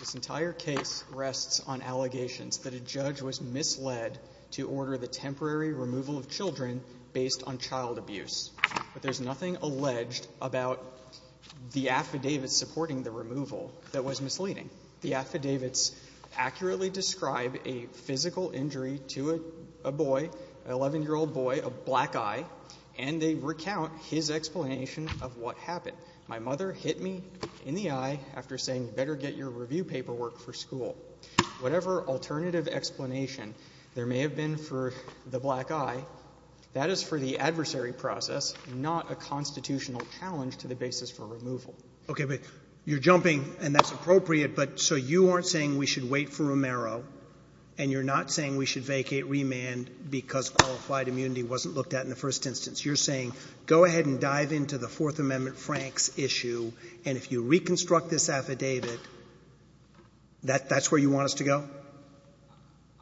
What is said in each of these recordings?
This entire case rests on allegations that a judge was misled to order the temporary removal of children based on child abuse. But there's nothing alleged about the affidavits supporting the removal that was misleading. The affidavits accurately describe a physical injury to a boy, an 11-year-old boy, a black eye, and they recount his explanation of what happened. My mother hit me in the eye after saying, you better get your review paperwork for school. Whatever alternative explanation there may have been for the black eye, that is for the adversary process, not a constitutional challenge to the basis for removal. Okay, but you're jumping, and that's appropriate, but so you aren't saying we should wait for vacate remand because qualified immunity wasn't looked at in the first instance. You're saying, go ahead and dive into the Fourth Amendment Franks issue, and if you reconstruct this affidavit, that's where you want us to go?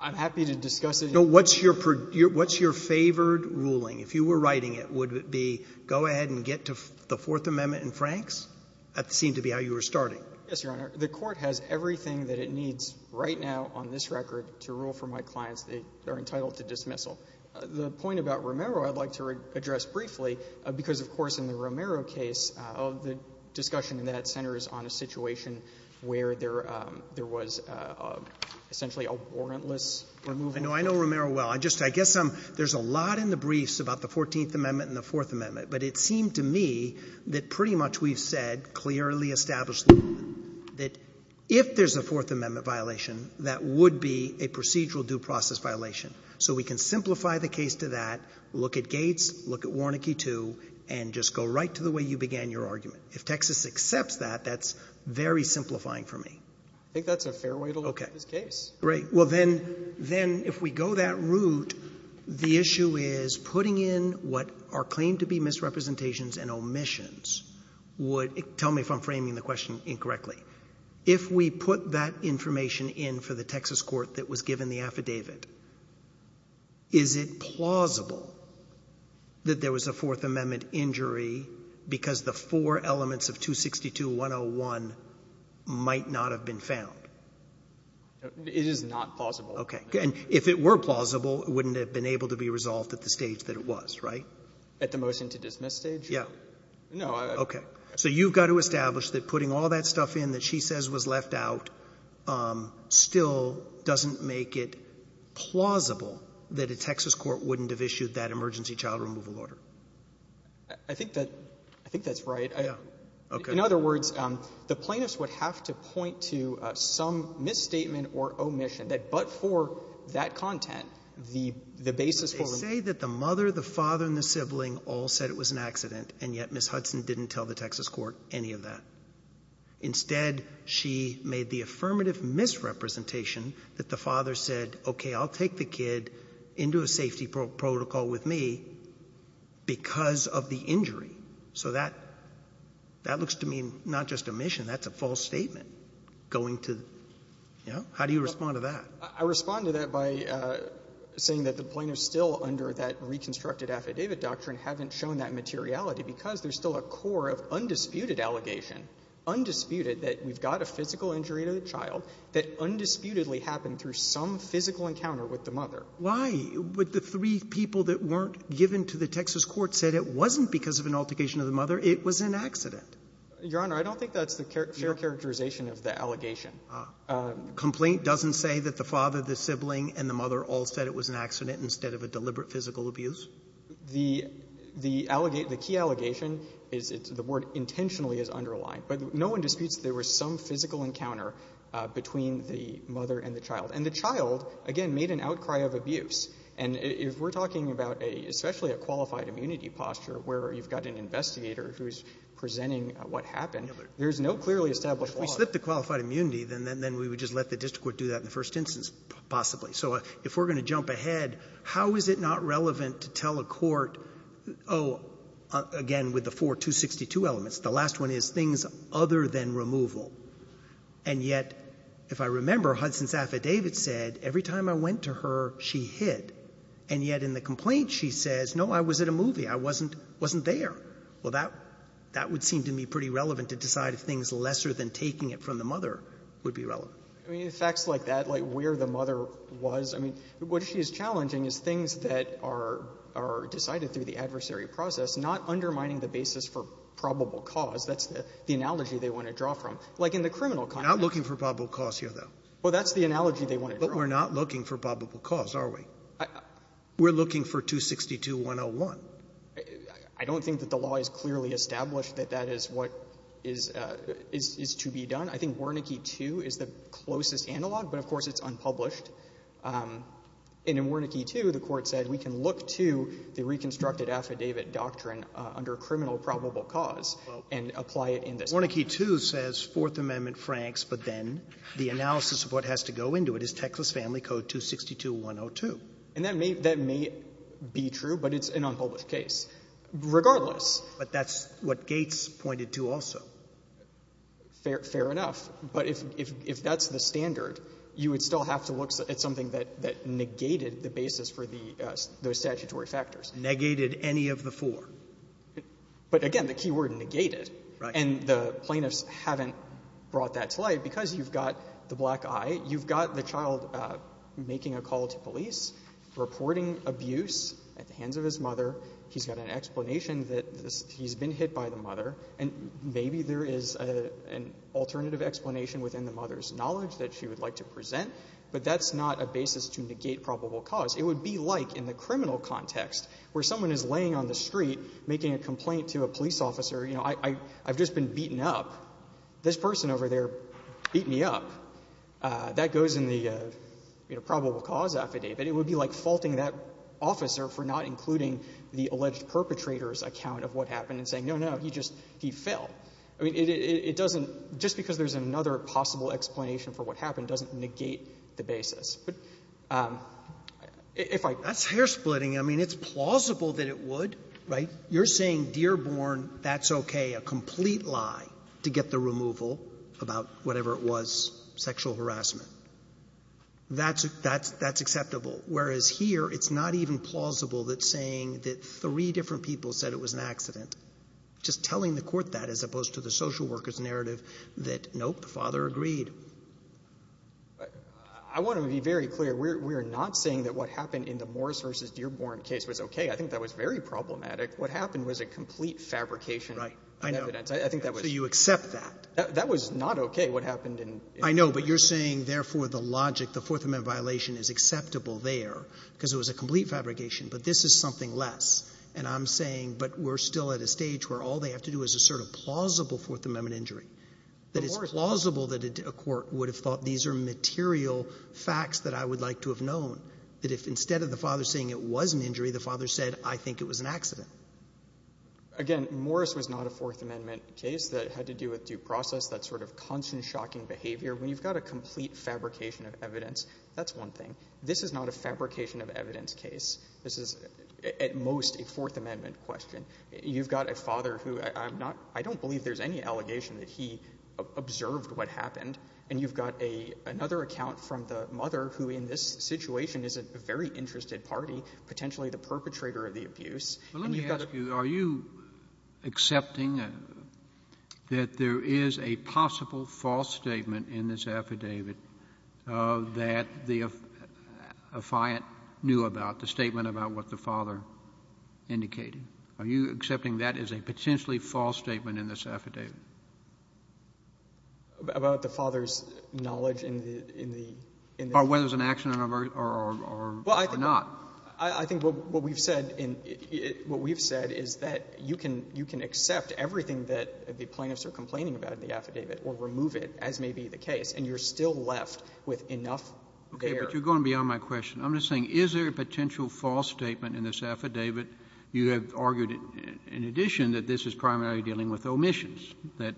I'm happy to discuss it. No, what's your favored ruling? If you were writing it, would it be, go ahead and get to the Fourth Amendment and Franks? That seemed to be how you were starting. Yes, Your Honor. The Court has everything that it needs right now on this record to rule for my clients. They are entitled to dismissal. The point about Romero I'd like to address briefly because, of course, in the Romero case, the discussion in that centers on a situation where there was essentially a warrantless removal. I know Romero well. I guess there's a lot in the briefs about the Fourteenth Amendment and the Fourth Amendment, but it seemed to me that pretty much we've said clearly established that if there's a Fourth Amendment violation, that would be a procedural due process violation. So we can simplify the case to that, look at Gates, look at Warnecke too, and just go right to the way you began your argument. If Texas accepts that, that's very simplifying for me. I think that's a fair way to look at this case. Okay. Great. Well, then if we go that route, the issue is putting in what are claimed to be misrepresentations and omissions would — tell me if I'm framing the question incorrectly. If we put that information in for the Texas court that was given the affidavit, is it plausible that there was a Fourth Amendment injury because the four elements of 262.101 might not have been found? It is not plausible. Okay. And if it were plausible, it wouldn't have been able to be resolved at the stage that it was, right? At the motion to dismiss stage? Yeah. No, I — Okay. So you've got to establish that putting all that stuff in that she says was left out still doesn't make it plausible that a Texas court wouldn't have issued that emergency child removal order. I think that — I think that's right. Yeah. Okay. In other words, the plaintiffs would have to point to some misstatement or omission that but for that content, the basis for — You say that the mother, the father, and the sibling all said it was an accident, and yet Ms. Hudson didn't tell the Texas court any of that. Instead, she made the affirmative misrepresentation that the father said, okay, I'll take the kid into a safety protocol with me because of the injury. So that — that looks to me not just omission. That's a false statement going to — you know, how do you respond to that? I respond to that by saying that the plaintiffs still under that reconstructed affidavit doctrine haven't shown that materiality because there's still a core of undisputed allegation, undisputed, that we've got a physical injury to the child that undisputedly happened through some physical encounter with the mother. Why would the three people that weren't given to the Texas court said it wasn't because of an altercation of the mother, it was an accident? Your Honor, I don't think that's the fair characterization of the allegation. Complaint doesn't say that the father, the sibling, and the mother all said it was an accident instead of a deliberate physical abuse? The — the key allegation is the word intentionally is underlined. But no one disputes there was some physical encounter between the mother and the child. And the child, again, made an outcry of abuse. And if we're talking about a — especially a qualified immunity posture where you've got an investigator who's presenting what happened, there's no clearly established law. Well, if we slip the qualified immunity, then we would just let the district court do that in the first instance, possibly. So if we're going to jump ahead, how is it not relevant to tell a court, oh, again, with the four 262 elements, the last one is things other than removal. And yet, if I remember, Hudson's affidavit said every time I went to her, she hid. And yet in the complaint, she says, no, I was at a movie. I wasn't — wasn't there. Well, that — that would seem to me pretty relevant to decide if things lesser than taking it from the mother would be relevant. I mean, facts like that, like where the mother was, I mean, what she is challenging is things that are — are decided through the adversary process, not undermining the basis for probable cause. That's the analogy they want to draw from. Like in the criminal context. We're not looking for probable cause here, though. Well, that's the analogy they want to draw. But we're not looking for probable cause, are we? We're looking for 262-101. I don't think that the law is clearly established that that is what is — is to be done. I think Wernicke 2 is the closest analog, but of course it's unpublished. And in Wernicke 2, the Court said we can look to the reconstructed affidavit doctrine under criminal probable cause and apply it in this case. Well, Wernicke 2 says Fourth Amendment franks, but then the analysis of what has to go into it is Texas Family Code 262-102. And that may — that may be true, but it's an unpublished case. Regardless — But that's what Gates pointed to also. Fair enough. But if — if that's the standard, you would still have to look at something that — that negated the basis for the — those statutory factors. Negated any of the four. But again, the key word, negated. Right. And the plaintiffs haven't brought that to light because you've got the black eye. You've got the child making a call to police, reporting abuse at the hands of his mother. He's got an explanation that he's been hit by the mother. And maybe there is an alternative explanation within the mother's knowledge that she would like to present. But that's not a basis to negate probable cause. It would be like in the criminal context where someone is laying on the street making a complaint to a police officer, you know, I — I've just been beaten up. This person over there beat me up. That goes in the, you know, probable cause affidavit. It would be like faulting that officer for not including the alleged perpetrator's account of what happened and saying, no, no, he just — he fell. I mean, it — it doesn't — just because there's another possible explanation for what happened doesn't negate the basis. But if I — That's hair-splitting. I mean, it's plausible that it would, right? You're saying, Dearborn, that's okay. A complete lie to get the removal about whatever it was, sexual harassment. That's — that's — that's acceptable, whereas here it's not even plausible that saying that three different people said it was an accident, just telling the court that as opposed to the social workers' narrative that, nope, the father agreed. I want to be very clear. We're — we're not saying that what happened in the Morris v. Dearborn case was okay. I think that was very problematic. What happened was a complete fabrication. Right. I know. I think that was — So you accept that? That was not okay, what happened in — I know. But you're saying, therefore, the logic, the Fourth Amendment violation is acceptable there because it was a complete fabrication. But this is something less. And I'm saying, but we're still at a stage where all they have to do is assert a plausible Fourth Amendment injury. That it's plausible that a court would have thought these are material facts that I would like to have known, that if instead of the father saying it was an injury, the father said, I think it was an accident. Again, Morris was not a Fourth Amendment case that had to do with due process, that sort of constant shocking behavior. When you've got a complete fabrication of evidence, that's one thing. This is not a fabrication of evidence case. This is at most a Fourth Amendment question. You've got a father who — I'm not — I don't believe there's any allegation that he observed what happened. And you've got a — another account from the mother who, in this situation, is a very interested party, potentially the perpetrator of the abuse. But let me ask you, are you accepting that there is a possible false statement in this affidavit that the affiant knew about, the statement about what the father indicated? Are you accepting that is a potentially false statement in this affidavit? About the father's knowledge in the — Or whether it was an accident or not. I think what we've said in — what we've said is that you can — you can accept everything that the plaintiffs are complaining about in the affidavit or remove it, as may be the case, and you're still left with enough there. Okay. But you're going beyond my question. I'm just saying, is there a potential false statement in this affidavit? You have argued, in addition, that this is primarily dealing with omissions, that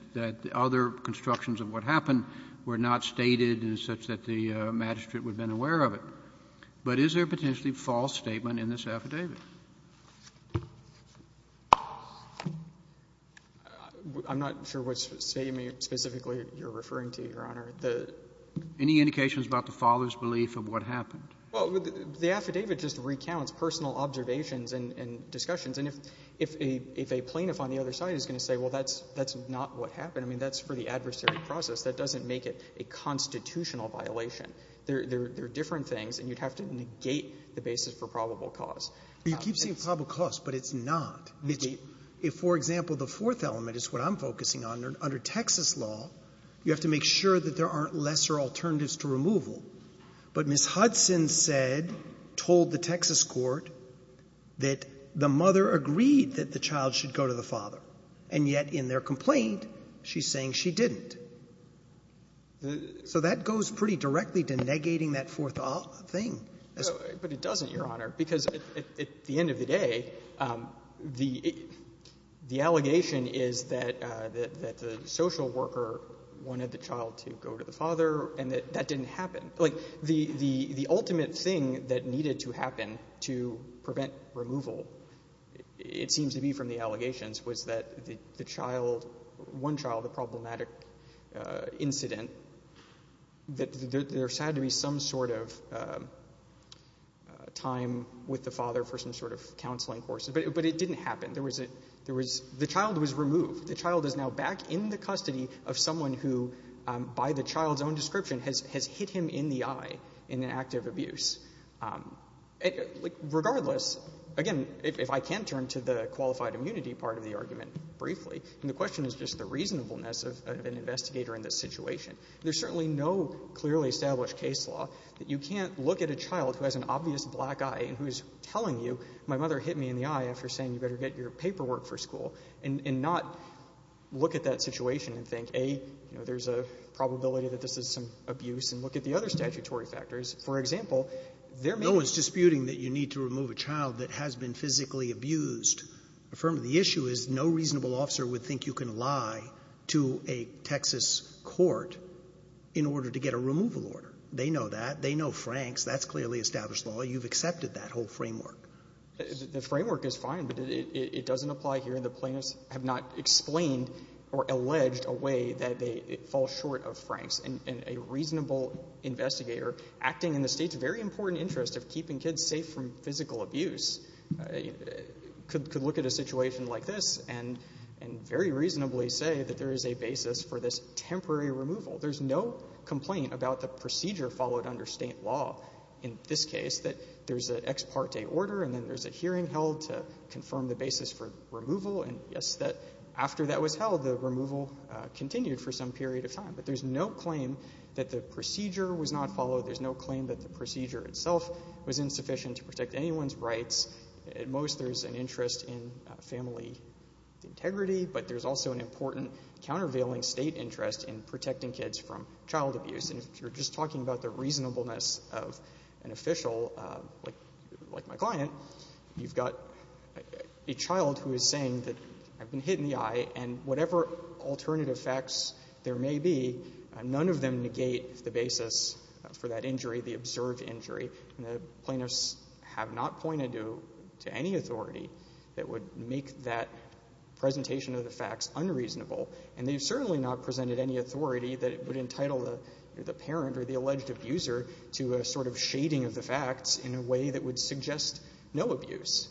other constructions of what happened were not stated in such that the magistrate would have been aware of it. But is there a potentially false statement in this affidavit? I'm not sure what statement specifically you're referring to, Your Honor. The — Any indications about the father's belief of what happened? Well, the affidavit just recounts personal observations and discussions. And if a plaintiff on the other side is going to say, well, that's not what happened, I mean, that's for the adversary process. That doesn't make it a constitutional violation. There are different things, and you'd have to negate the basis for probable cause. You keep saying probable cause, but it's not. If, for example, the fourth element is what I'm focusing on. Under Texas law, you have to make sure that there aren't lesser alternatives to removal. But Ms. Hudson said, told the Texas court, that the mother agreed that the child should go to the father. And yet, in their complaint, she's saying she didn't. So that goes pretty directly to negating that fourth thing. But it doesn't, Your Honor, because at the end of the day, the allegation is that the social worker wanted the child to go to the father and that that didn't happen. Like, the ultimate thing that needed to happen to prevent removal, it seems to be from the allegations, was that the child, one child, the problematic incident, that there had to be some sort of time with the father for some sort of counseling course. But it didn't happen. There was a, there was, the child was removed. The child is now back in the custody of someone who, by the child's own description, Regardless, again, if I can turn to the qualified immunity part of the argument briefly, and the question is just the reasonableness of an investigator in this situation. There's certainly no clearly established case law that you can't look at a child who has an obvious black eye and who is telling you, my mother hit me in the eye after saying you better get your paperwork for school, and not look at that situation and think, A, there's a probability that this is some abuse, and look at the other statutory factors. For example, there may be. No one's disputing that you need to remove a child that has been physically abused. The issue is no reasonable officer would think you can lie to a Texas court in order to get a removal order. They know that. They know Franks. That's clearly established law. You've accepted that whole framework. The framework is fine, but it doesn't apply here. And the plaintiffs have not explained or alleged a way that they fall short of Franks. And a reasonable investigator acting in the state's very important interest of keeping kids safe from physical abuse could look at a situation like this and very reasonably say that there is a basis for this temporary removal. There's no complaint about the procedure followed under state law in this case that there's an ex parte order, and then there's a hearing held to confirm the basis for removal. And yes, after that was held, the removal continued for some period of time. But there's no claim that the procedure was not followed. There's no claim that the procedure itself was insufficient to protect anyone's rights. At most, there's an interest in family integrity, but there's also an important countervailing state interest in protecting kids from child abuse. And if you're just talking about the reasonableness of an official like my client, you've got a child who is saying that I've been hit in the eye and whatever alternative facts there may be, none of them negate the basis for that injury, the observed injury. And the plaintiffs have not pointed to any authority that would make that presentation of the facts unreasonable. And they've certainly not presented any authority that would entitle the parent or the alleged abuser to a sort of shading of the facts in a way that would suggest no abuse.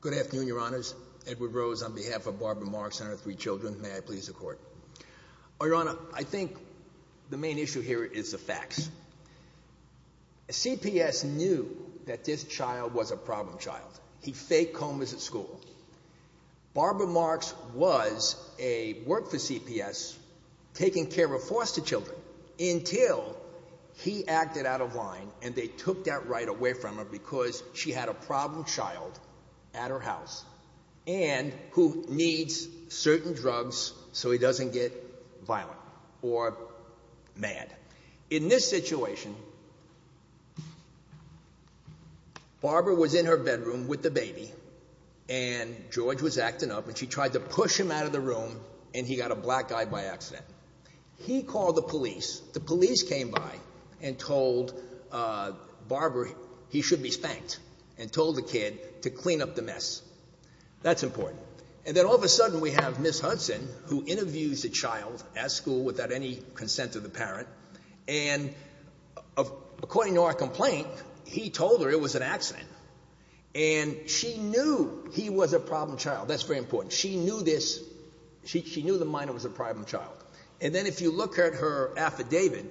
Good afternoon, Your Honors. Edward Rose on behalf of Barbara Marks and her three children. May I please the court? Your Honor, I think the main issue here is the facts. CPS knew that this child was a problem child. He faked comas at school. Barbara Marks was a work for CPS, taking care of foster children until he acted out of line and they took that right away from her because she had a problem child at her house and who needs certain drugs so he doesn't get violent or mad. In this situation, Barbara was in her bedroom with the baby and George was acting up and she tried to push him out of the room and he got a black eye by accident. He called the police. The police came by and told Barbara he should be spanked and told the kid to clean up the mess. That's important. And then all of a sudden we have Ms. Consent to the parent and according to our complaint, he told her it was an accident and she knew he was a problem child. That's very important. She knew this. She knew the minor was a problem child. And then if you look at her affidavit,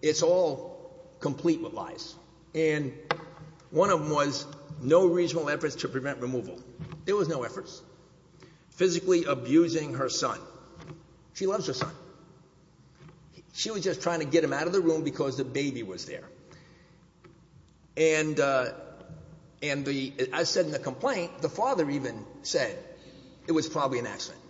it's all complete with lies. And one of them was no reasonable efforts to prevent removal. There was no efforts. Physically abusing her son. She loves her son. She was just trying to get him out of the room because the baby was there. And I said in the complaint, the father even said it was probably an accident.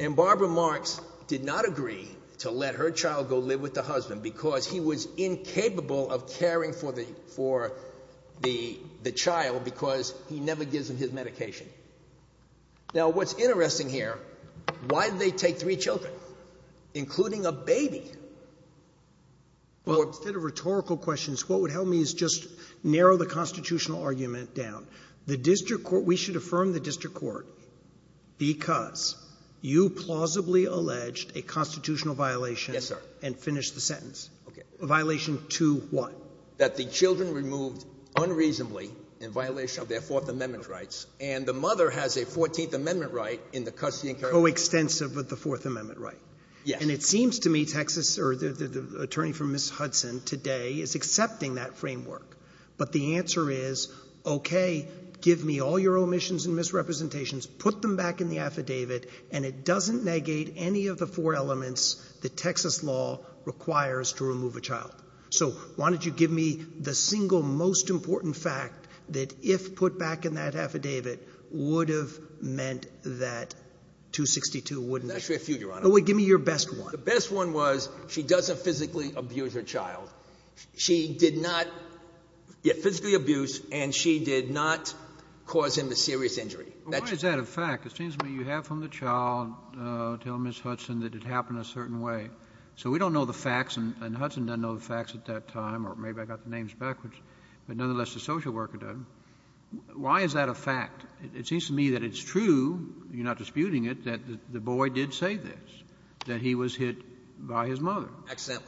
And Barbara Marks did not agree to let her child go live with the husband because he was incapable of caring for the child because he never gives him his medication. Now, what's interesting here, why did they take three children, including a baby? Well, instead of rhetorical questions, what would help me is just narrow the constitutional argument down. The district court, we should affirm the district court because you plausibly alleged a constitutional violation and finish the sentence. A violation to what? That the children removed unreasonably in violation of their fourth amendment rights and the mother has a 14th amendment right in the custody and care. Coextensive with the fourth amendment, right? Yeah. And it seems to me Texas or the attorney for Ms. Hudson today is accepting that framework. But the answer is, okay, give me all your omissions and misrepresentations, put them back in the affidavit and it doesn't negate any of the four elements that Texas law requires to remove a child. So why don't you give me the single most important fact that if put back in that affidavit would have meant that 262 wouldn't be? I'm not sure if you, Your Honor. Give me your best one. The best one was she doesn't physically abuse her child. She did not, yeah, physically abuse and she did not cause him a serious injury. Why is that a fact? It seems to me you have from the child, uh, tell Ms. Hudson that it happened a certain way. So we don't know the facts and Hudson doesn't know the facts at that time, or maybe I got the names backwards, but nonetheless, the social worker does. Why is that a fact? It seems to me that it's true. You're not disputing it, that the boy did say this, that he was hit by his mother. Accidentally.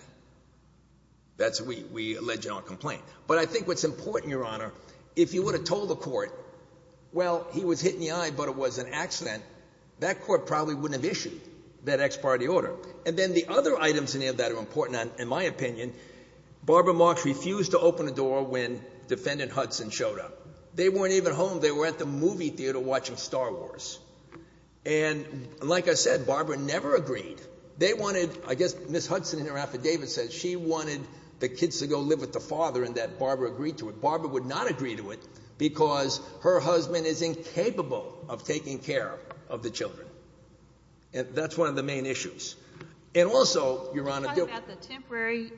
That's what we, we alleged on complaint, but I think what's important, Your Honor, if you would have told the court, well, he was hit in the eye, but it was an accident, that court probably wouldn't have issued that ex parte order. And then the other items in there that are important in my opinion, Barbara Marks refused to open the door when defendant Hudson showed up, they weren't even home, they were at the movie theater watching Star Wars. And like I said, Barbara never agreed. They wanted, I guess, Ms. Hudson in her affidavit says she wanted the kids to go live with the father and that Barbara agreed to it. Barbara would not agree to it because her husband is incapable of taking care of the children. And that's one of the main issues. And also, Your Honor. We're talking about the temporary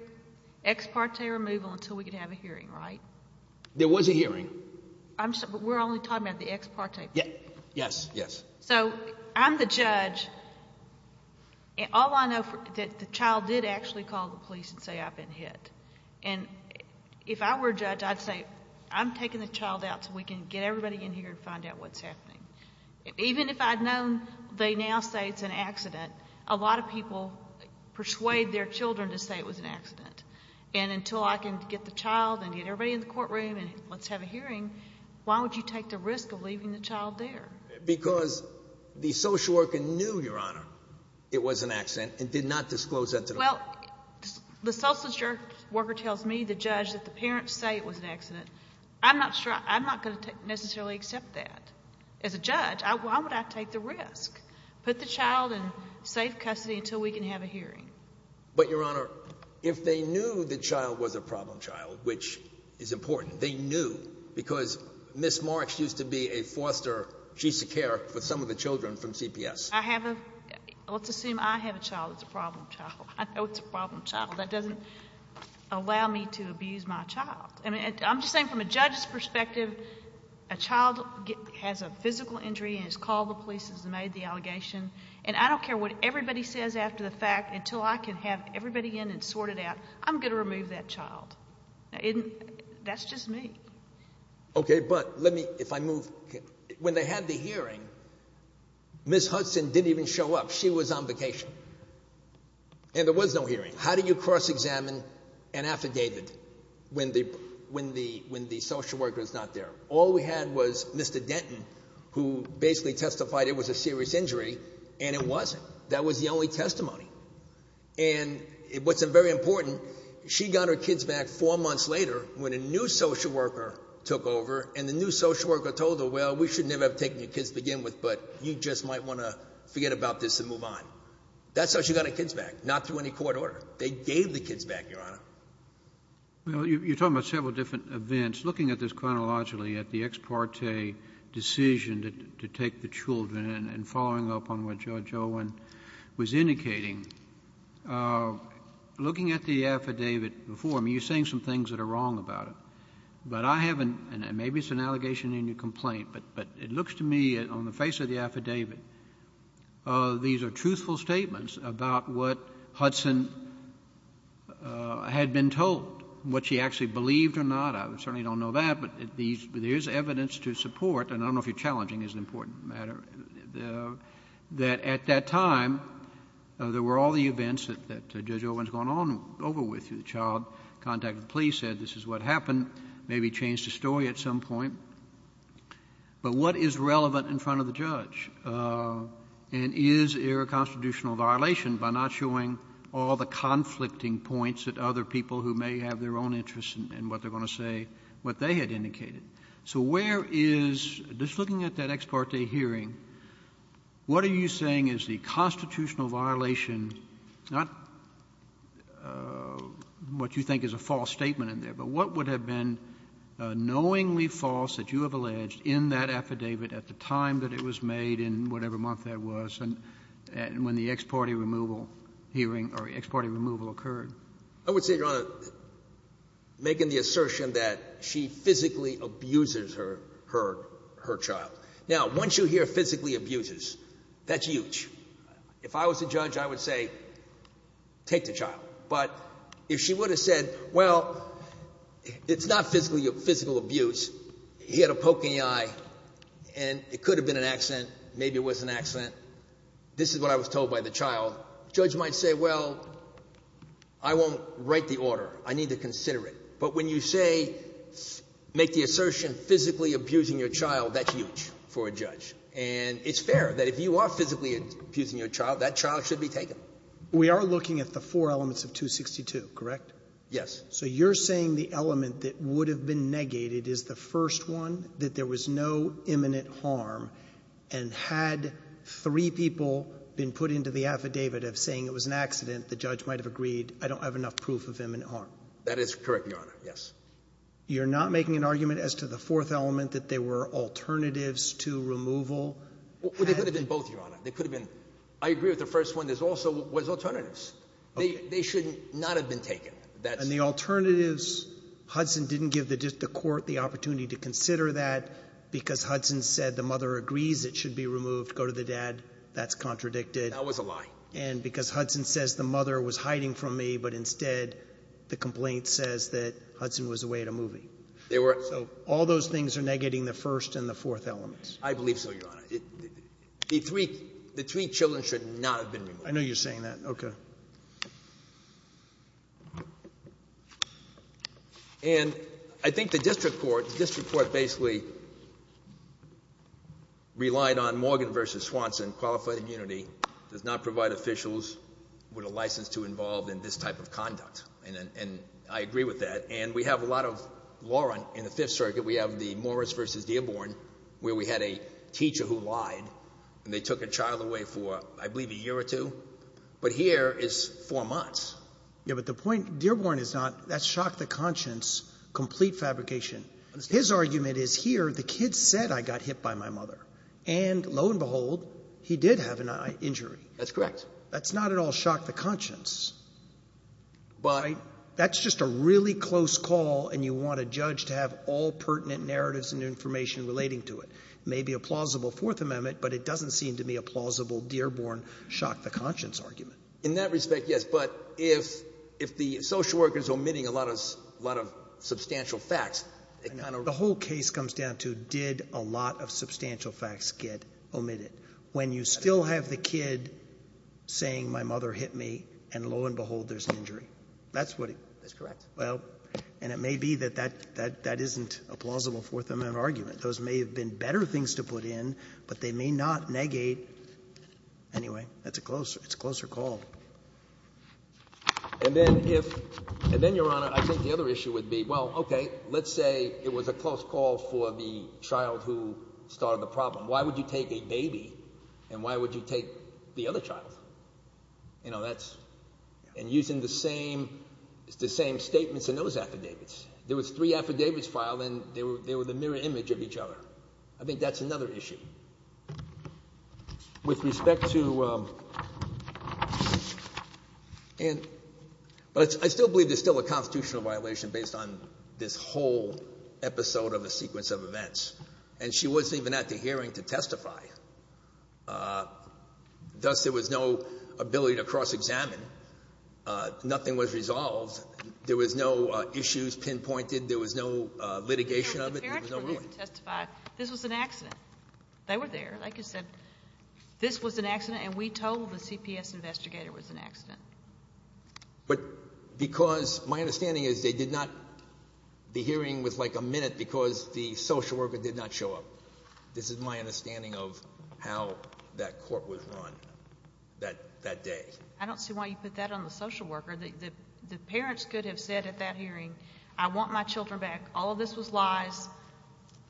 ex parte removal until we can have a hearing, right? There was a hearing. I'm sorry, but we're only talking about the ex parte. Yeah, yes, yes. So I'm the judge and all I know that the child did actually call the police and say, I've been hit. And if I were a judge, I'd say, I'm taking the child out so we can get everybody in here and find out what's happening. Even if I'd known they now say it's an accident, a lot of people persuade their children to say it was an accident. And until I can get the child and get everybody in the courtroom and let's have a hearing, why would you take the risk of leaving the child there? Because the social worker knew, Your Honor, it was an accident and did not disclose that to the- Well, the social worker tells me, the judge, that the parents say it was an accident. I'm not sure. I'm not going to necessarily accept that. As a judge, why would I take the risk? Put the child in safe custody until we can have a hearing. But Your Honor, if they knew the child was a problem child, which is important, they knew because Ms. Marks used to be a foster, she used to care for some of the children from CPS. I have a, let's assume I have a child that's a problem child. I know it's a problem child. That doesn't allow me to abuse my child. I mean, I'm just saying from a judge's perspective, a child has a physical injury and has called the police, has made the allegation, and I don't care what everybody says after the fact until I can have everybody in and sort it out. I'm going to remove that child. And that's just me. Okay. But let me, if I move, when they had the hearing, Ms. Hudson didn't even show up. She was on vacation and there was no hearing. How do you cross-examine an affidavit when the social worker is not there? All we had was Mr. Denton, who basically testified it was a serious injury and it wasn't. That was the only testimony. And what's very important, she got her kids back four months later when a new social worker took over and the new social worker told her, well, we should never have taken your kids to begin with, but you just might want to forget about this and move on. That's how she got her kids back. Not through any court order. They gave the kids back, Your Honor. Well, you're talking about several different events, looking at this chronologically at the ex parte decision to take the children and following up on what Judge Owen was indicating, looking at the affidavit before, I mean, you're saying some things that are wrong about it, but I haven't, and maybe it's an allegation in your complaint, but, but it looks to me on the face of the affidavit, these are truthful statements about what Hudson had been told, what she actually believed or not. I certainly don't know that, but there's evidence to support, and I don't know if you're challenging, it's an important matter, that at that time, there were all the events that Judge Owen's gone on over with, the child contacted the police, said this is what happened, maybe changed the story at some point, but what is relevant in front of the judge? And is there a constitutional violation by not showing all the conflicting points that other people who may have their own interests in what they're going to say, what they had indicated. So where is, just looking at that ex parte hearing, what are you saying is the constitutional violation, not what you think is a false statement in there, but what would have been knowingly false that you have alleged in that affidavit at the time that it was made, in whatever month that was, and when the ex parte removal hearing, or ex parte removal occurred? I would say, Your Honor, making the assertion that she physically abuses her, her, her child. Now, once you hear physically abuses, that's huge. If I was a judge, I would say, take the child. But if she would have said, well, it's not physically, physical abuse, he had a broken eye, and it could have been an accident, maybe it was an accident, this is what I was told by the child, judge might say, well, I won't write the order. I need to consider it. But when you say, make the assertion, physically abusing your child, that's huge for a judge. And it's fair that if you are physically abusing your child, that child should be taken. We are looking at the four elements of 262, correct? Yes. So you're saying the element that would have been negated is the first one, that there was no imminent harm. And had three people been put into the affidavit of saying it was an accident, the judge might have agreed, I don't have enough proof of imminent harm. That is correct, Your Honor. Yes. You're not making an argument as to the fourth element, that there were alternatives to removal? Well, they could have been both, Your Honor. They could have been. I agree with the first one. There's also was alternatives. They should not have been taken. And the alternatives, Hudson didn't give the court the opportunity to consider that because Hudson said the mother agrees it should be removed. Go to the dad. That's contradicted. That was a lie. And because Hudson says the mother was hiding from me, but instead the complaint says that Hudson was away at a movie. So all those things are negating the first and the fourth elements. I believe so, Your Honor. The three children should not have been removed. I know you're saying that. Okay. And I think the district court, the district court basically relied on Morgan versus Swanson, qualified immunity, does not provide officials with a license to involve in this type of conduct. And I agree with that. And we have a lot of law in the fifth circuit. We have the Morris versus Dearborn, where we had a teacher who lied and they took a child away for, I believe a year or two, but here is four months. Yeah, but the point, Dearborn is not, that shocked the conscience, complete fabrication, his argument is here. The kid said I got hit by my mother and lo and behold, he did have an injury. That's correct. That's not at all shocked the conscience, but that's just a really close call. And you want a judge to have all pertinent narratives and information relating to it. It may be a plausible fourth amendment, but it doesn't seem to me a plausible Dearborn shocked the conscience argument. In that respect. Yes. But if, if the social worker is omitting a lot of, a lot of substantial facts. The whole case comes down to did a lot of substantial facts get omitted when you still have the kid saying my mother hit me and lo and behold, there's an injury. That's what it is. Correct. Well, and it may be that, that, that, that isn't a plausible fourth amendment argument, those may have been better things to put in, but they may not negate. Anyway, that's a closer, it's a closer call. And then if, and then your honor, I think the other issue would be, well, okay. Let's say it was a close call for the child who started the problem. Why would you take a baby and why would you take the other child? You know, that's, and using the same, it's the same statements in those affidavits. There was three affidavits filed and they were, they were the mirror image of each other. I think that's another issue. With respect to, um, and, but I still believe there's still a constitutional violation based on this whole episode of a sequence of events and she wasn't even at the hearing to testify. Uh, thus there was no ability to cross examine. Uh, nothing was resolved. There was no issues pinpointed. There was no litigation of it. There was no ruling. The parents were there to testify. This was an accident. They were there. Like I said, this was an accident and we told the CPS investigator it was an accident. But because my understanding is they did not, the hearing was like a minute because the social worker did not show up. This is my understanding of how that court was run that, that day. I don't see why you put that on the social worker. The, the, the parents could have said at that hearing, I want my children back. All of this was lies.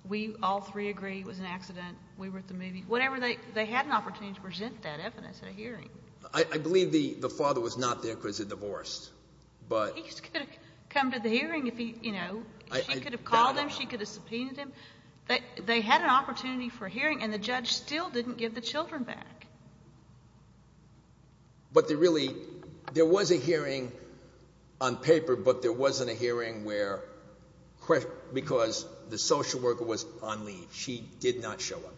We all three agree it was an accident. We were at the movie, whatever. They, they had an opportunity to present that evidence at a hearing. I believe the, the father was not there because they divorced, but... He could have come to the hearing if he, you know, she could have called him. She could have subpoenaed him. They, they had an opportunity for hearing and the judge still didn't give the children back. But they really, there was a hearing on paper, but there wasn't a hearing where, where, because the social worker was on leave. She did not show up.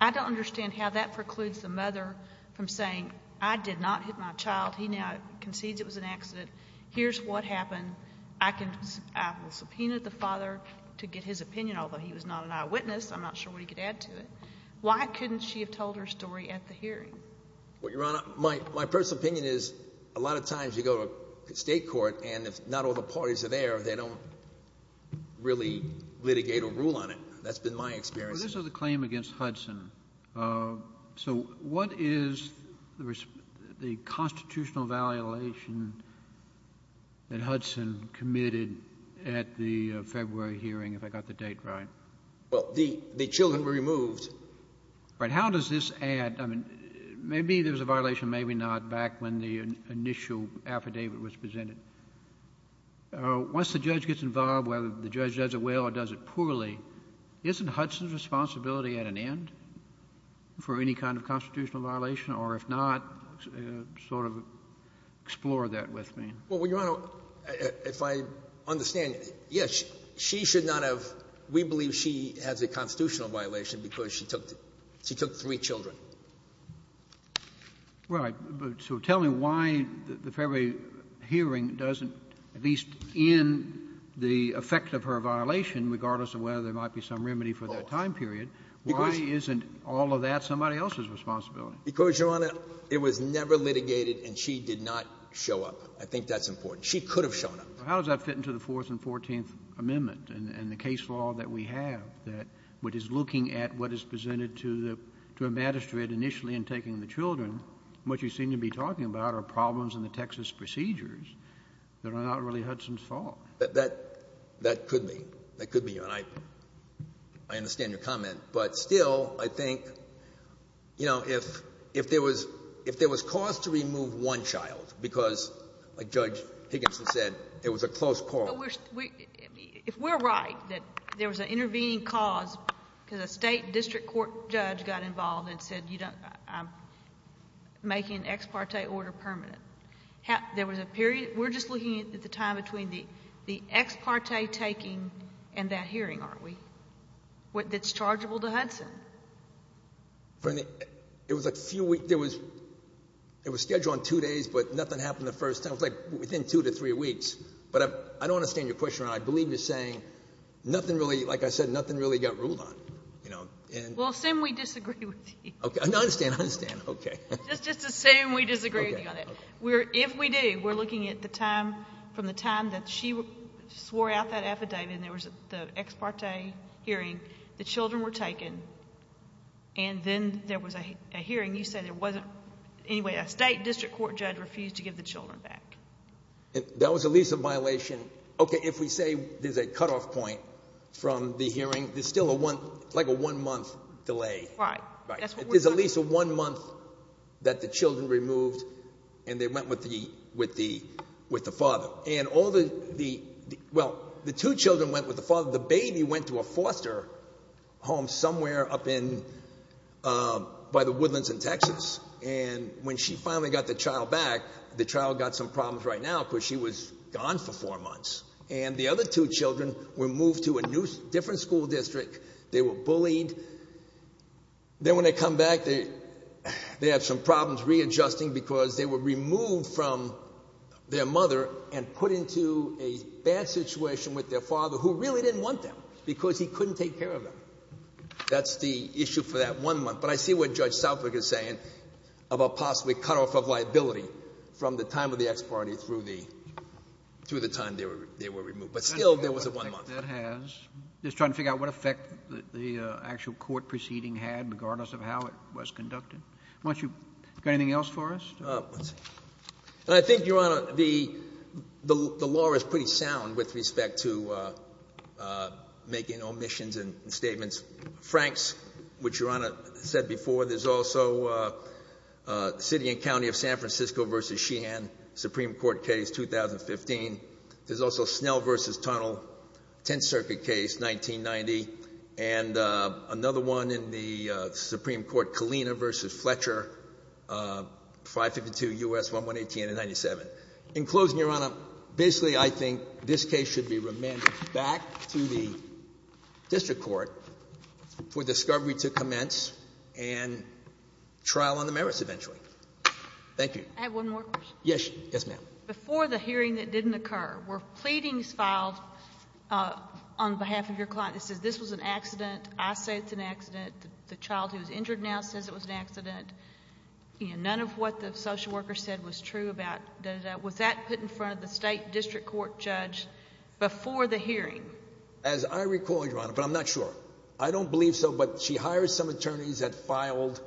I don't understand how that precludes the mother from saying, I did not hit my child. He now concedes it was an accident. Here's what happened. I can, I will subpoena the father to get his opinion, although he was not an eyewitness, I'm not sure what he could add to it. Why couldn't she have told her story at the hearing? Well, Your Honor, my, my personal opinion is a lot of times you go to state court and if not all the parties are there, they don't really litigate or rule on it. That's been my experience. Well, this was a claim against Hudson. Uh, so what is the, the constitutional validation that Hudson committed at the February hearing, if I got the date right? Well, the, the children were removed. Right. How does this add, I mean, maybe there was a violation, maybe not, back when the initial affidavit was presented. Uh, once the judge gets involved, whether the judge does it well or does it poorly, isn't Hudson's responsibility at an end for any kind of constitutional violation, or if not, uh, sort of explore that with me. Well, Your Honor, if I understand it, yes, she should not have, we believe she has a constitutional violation because she took, she took three children. Right. So tell me why the February hearing doesn't, at least in the effect of her violation, regardless of whether there might be some remedy for that time period. Why isn't all of that somebody else's responsibility? Because Your Honor, it was never litigated and she did not show up. I think that's important. She could have shown up. How does that fit into the fourth and 14th amendment and the case law that we have read initially in taking the children, what you seem to be talking about are problems in the Texas procedures that are not really Hudson's fault. That, that, that could be, that could be, Your Honor. I understand your comment, but still I think, you know, if, if there was, if there was cause to remove one child, because like Judge Higginson said, it was a close quarrel. But we're, if we're right that there was an intervening cause because a state district court judge got involved and said, you don't, I'm making an ex parte order permanent. There was a period, we're just looking at the time between the, the ex parte taking and that hearing, aren't we? What, that's chargeable to Hudson. Bernie, it was a few weeks, there was, it was scheduled on two days, but nothing happened the first time. It was like within two to three weeks, but I don't understand your question. And I believe you're saying nothing really, like I said, nothing really got ruled on, you know, and... Well, assume we disagree with you. Okay. No, I understand. I understand. Okay. Just, just assume we disagree with you on it. We're, if we do, we're looking at the time from the time that she swore out that affidavit and there was the ex parte hearing, the children were taken and then there was a hearing, you said there wasn't, anyway, a state district court judge refused to give the children back. That was at least a violation. Okay. If we say there's a cutoff point from the hearing, there's still a one, like a one month delay. Right. Right. That's what we're talking about. There's at least a one month that the children removed and they went with the, with the, with the father and all the, the, well, the two children went with the father, the baby went to a foster home somewhere up in, um, by the Woodlands in Texas. And when she finally got the child back, the child got some problems right now because she was gone for four months and the other two children were moved to a new, different school district. They were bullied. Then when they come back, they, they have some problems readjusting because they were removed from their mother and put into a bad situation with their father who really didn't want them because he couldn't take care of them. That's the issue for that one month. But I see what judge Southwick is saying about possibly cutoff of liability from the time of the ex-party through the, through the time they were, they were removed, but still there was a one month. That has. Just trying to figure out what effect the actual court proceeding had regardless of how it was conducted. Why don't you, got anything else for us? I think Your Honor, the, the law is pretty sound with respect to, uh, uh, making omissions and statements. Frank's, which Your Honor said before, there's also, uh, uh, city and county of San Francisco versus Sheehan, Supreme Court case, 2015. There's also Snell versus Tunnel, 10th circuit case, 1990. And, uh, another one in the Supreme Court, Kalina versus Fletcher, uh, 552 U.S. 118 and 97. In closing Your Honor, basically I think this case should be remanded back to the district court for discovery to commence and trial on the merits eventually. Thank you. I have one more question. Yes, yes ma'am. Before the hearing that didn't occur, were pleadings filed, uh, on behalf of your client that says, this was an accident, I say it's an accident, the child who's injured now says it was an accident, you know, none of what the social worker said was true about, was that put in front of the state district court judge before the hearing? As I recall, Your Honor, but I'm not sure, I don't believe so. She hired some attorneys that filed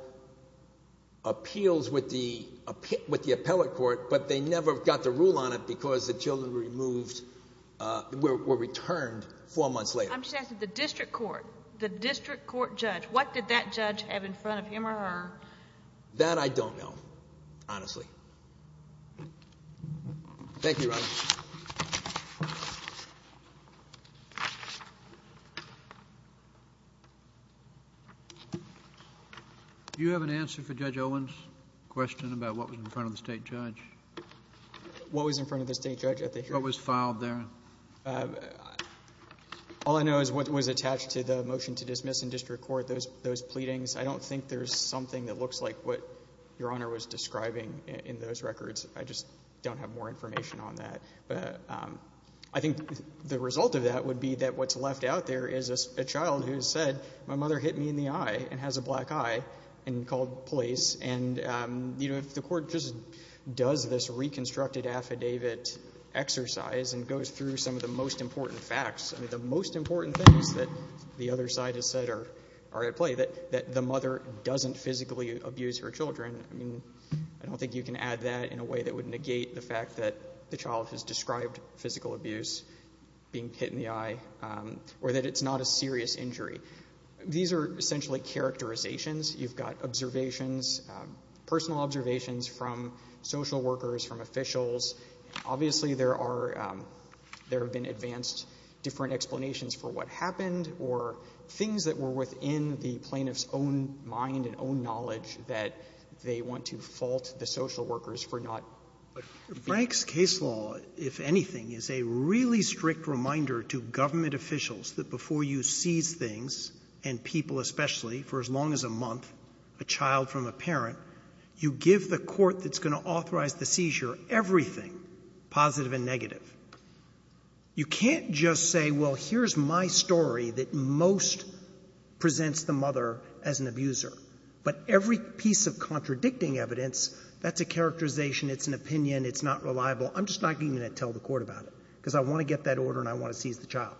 appeals with the appellate court, but they never got the rule on it because the children were removed, uh, were returned four months later. I'm just asking the district court, the district court judge, what did that judge have in front of him or her? That I don't know, honestly. Thank you Your Honor. Do you have an answer for Judge Owens' question about what was in front of the state judge? What was in front of the state judge at the hearing? What was filed there? Uh, all I know is what was attached to the motion to dismiss in district court, those, those pleadings. I don't think there's something that looks like what Your Honor was describing in those records. I just don't have more information on that. But, um, I think the result of that would be that what's left out there is a child who said, my mother hit me in the eye and has a black eye and called police. And, um, you know, if the court just does this reconstructed affidavit exercise and goes through some of the most important facts, I mean, the most important things that the other side has said are at play, that the mother doesn't physically abuse her children. I mean, I don't think you can add that in a way that would negate the fact that the child has described physical abuse, being hit in the eye, or that it's not a serious injury. These are essentially characterizations. You've got observations, um, personal observations from social workers, from officials, obviously there are, um, there have been advanced different explanations for what happened or things that were within the plaintiff's own mind and own knowledge that they want to fault the social workers for not. Frank's case law, if anything, is a really strict reminder to government officials that before you seize things and people, especially for as long as a month, a child from a parent, you give the court that's going to authorize the seizure, everything positive and negative. You can't just say, well, here's my story that most presents the mother as an abuser, but every piece of contradicting evidence, that's a characterization. It's an opinion. It's not reliable. I'm just not going to tell the court about it because I want to get that order and I want to seize the child.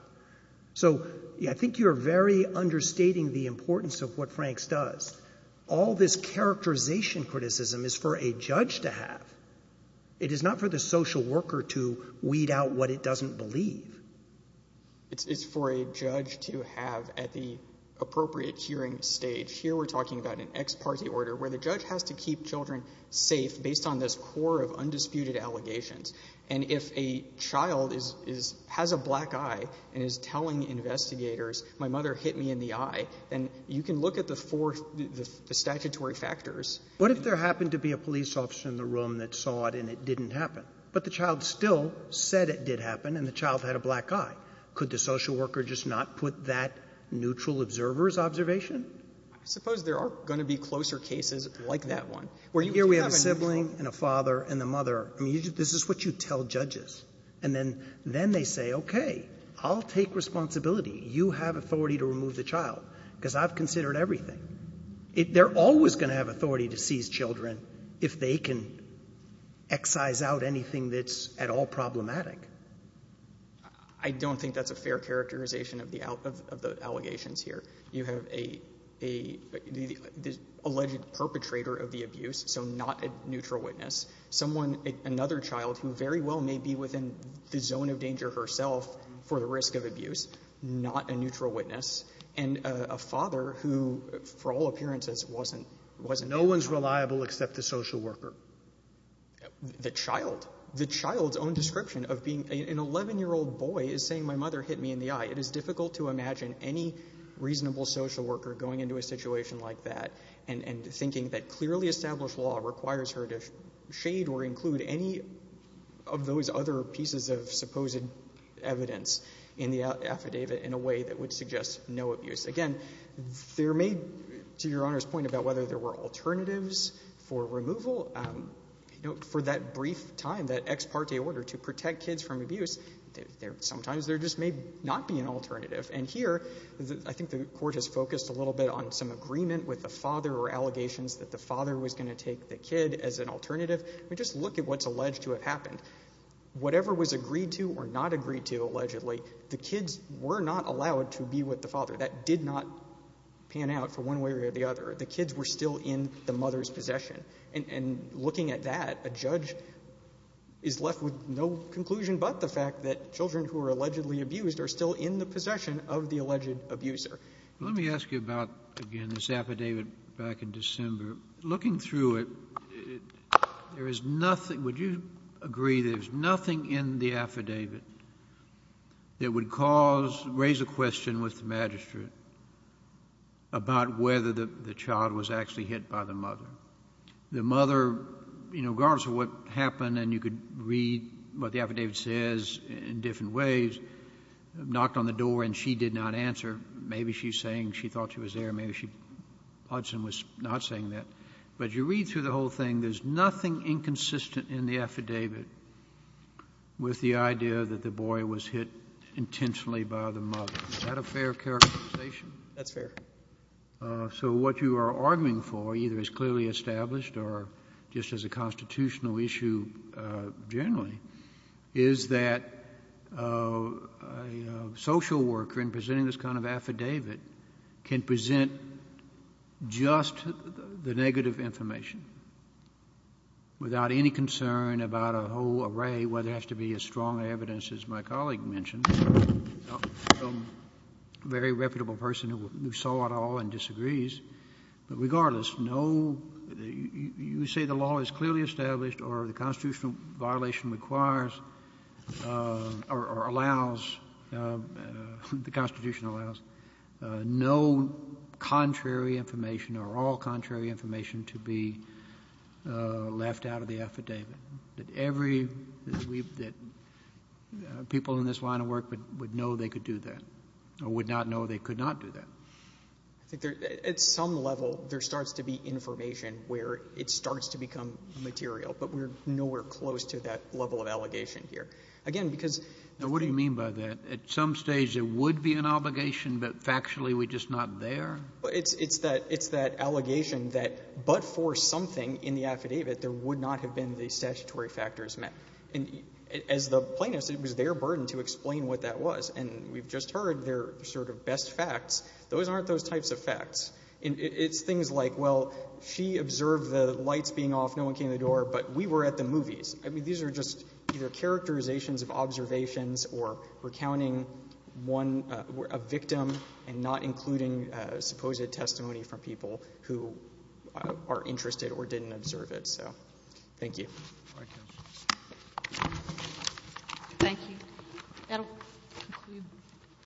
So I think you're very understating the importance of what Frank's does. All this characterization criticism is for a judge to have. It is not for the social worker to weed out what it doesn't believe. It's for a judge to have at the appropriate hearing stage. Here, we're talking about an ex-party order where the judge has to keep children safe based on this core of undisputed allegations. And if a child has a black eye and is telling investigators, my mother hit me in the eye, then you can look at the four statutory factors. What if there happened to be a police officer in the room that saw it and it didn't happen, but the child still said it did happen and the child had a black eye, could the social worker just not put that neutral observer's observation? I suppose there are going to be closer cases like that one. Here we have a sibling and a father and the mother. I mean, this is what you tell judges. And then, then they say, okay, I'll take responsibility. You have authority to remove the child because I've considered everything. They're always going to have authority to seize children if they can excise out anything that's at all problematic. I don't think that's a fair characterization of the allegations here. You have a, the alleged perpetrator of the abuse, so not a neutral witness. Someone, another child who very well may be within the zone of danger herself for the risk of abuse, not a neutral witness. And a father who for all appearances wasn't, wasn't. No one's reliable except the social worker. The child, the child's own description of being an 11 year old boy is saying, my mother hit me in the eye. And, and thinking that clearly established law requires her to shade or include any of those other pieces of supposed evidence in the affidavit in a way that would suggest no abuse. Again, there may, to your Honor's point about whether there were alternatives for removal, you know, for that brief time, that ex parte order to protect kids from abuse, there, sometimes there just may not be an alternative. And here, I think the Court has focused a little bit on some agreement with the father or allegations that the father was going to take the kid as an alternative. I mean, just look at what's alleged to have happened. Whatever was agreed to or not agreed to allegedly, the kids were not allowed to be with the father. That did not pan out for one way or the other. The kids were still in the mother's possession. And, and looking at that, a judge is left with no conclusion but the fact that children who are allegedly abused are still in the possession of the alleged abuser. Let me ask you about, again, this affidavit back in December. Looking through it, there is nothing, would you agree there's nothing in the affidavit that would cause, raise a question with the magistrate about whether the child was actually hit by the mother? The mother, you know, regardless of what happened and you could read what the affidavit says in different ways, knocked on the door and she did not answer. Maybe she's saying she thought she was there. Maybe she, Hudson was not saying that, but you read through the whole thing. There's nothing inconsistent in the affidavit with the idea that the boy was hit intentionally by the mother. Is that a fair characterization? That's fair. Uh, so what you are arguing for either is clearly established or just as a constitutional issue, uh, generally is that, uh, a social worker in presenting this kind of affidavit can present just the negative information without any concern about a whole array, whether it has to be as strong evidence as my colleague mentioned, a very reputable person who saw it all and disagrees, but regardless, no, you say the law is clearly established or the constitutional violation requires, uh, or allows, uh, the constitution allows, uh, no contrary information or all contrary information to be, uh, left out of the affidavit that every, that we've, that, uh, people in this line of work would know they could do that or would not know they could not do that. I think there, at some level, there starts to be information where it starts to become material, but we're nowhere close to that level of allegation here. Again, because. Now, what do you mean by that? At some stage it would be an obligation, but factually we're just not there. Well, it's, it's that, it's that allegation that, but for something in the affidavit, there would not have been the statutory factors met. And as the plaintiffs, it was their burden to explain what that was. And we've just heard their sort of best facts. Those aren't those types of facts. And it's things like, well, she observed the lights being off. No one came to the door, but we were at the movies. I mean, these are just either characterizations of observations or recounting one, uh, a victim and not including, uh, supposed testimony from people who are interested or didn't observe it. So thank you. Thank you.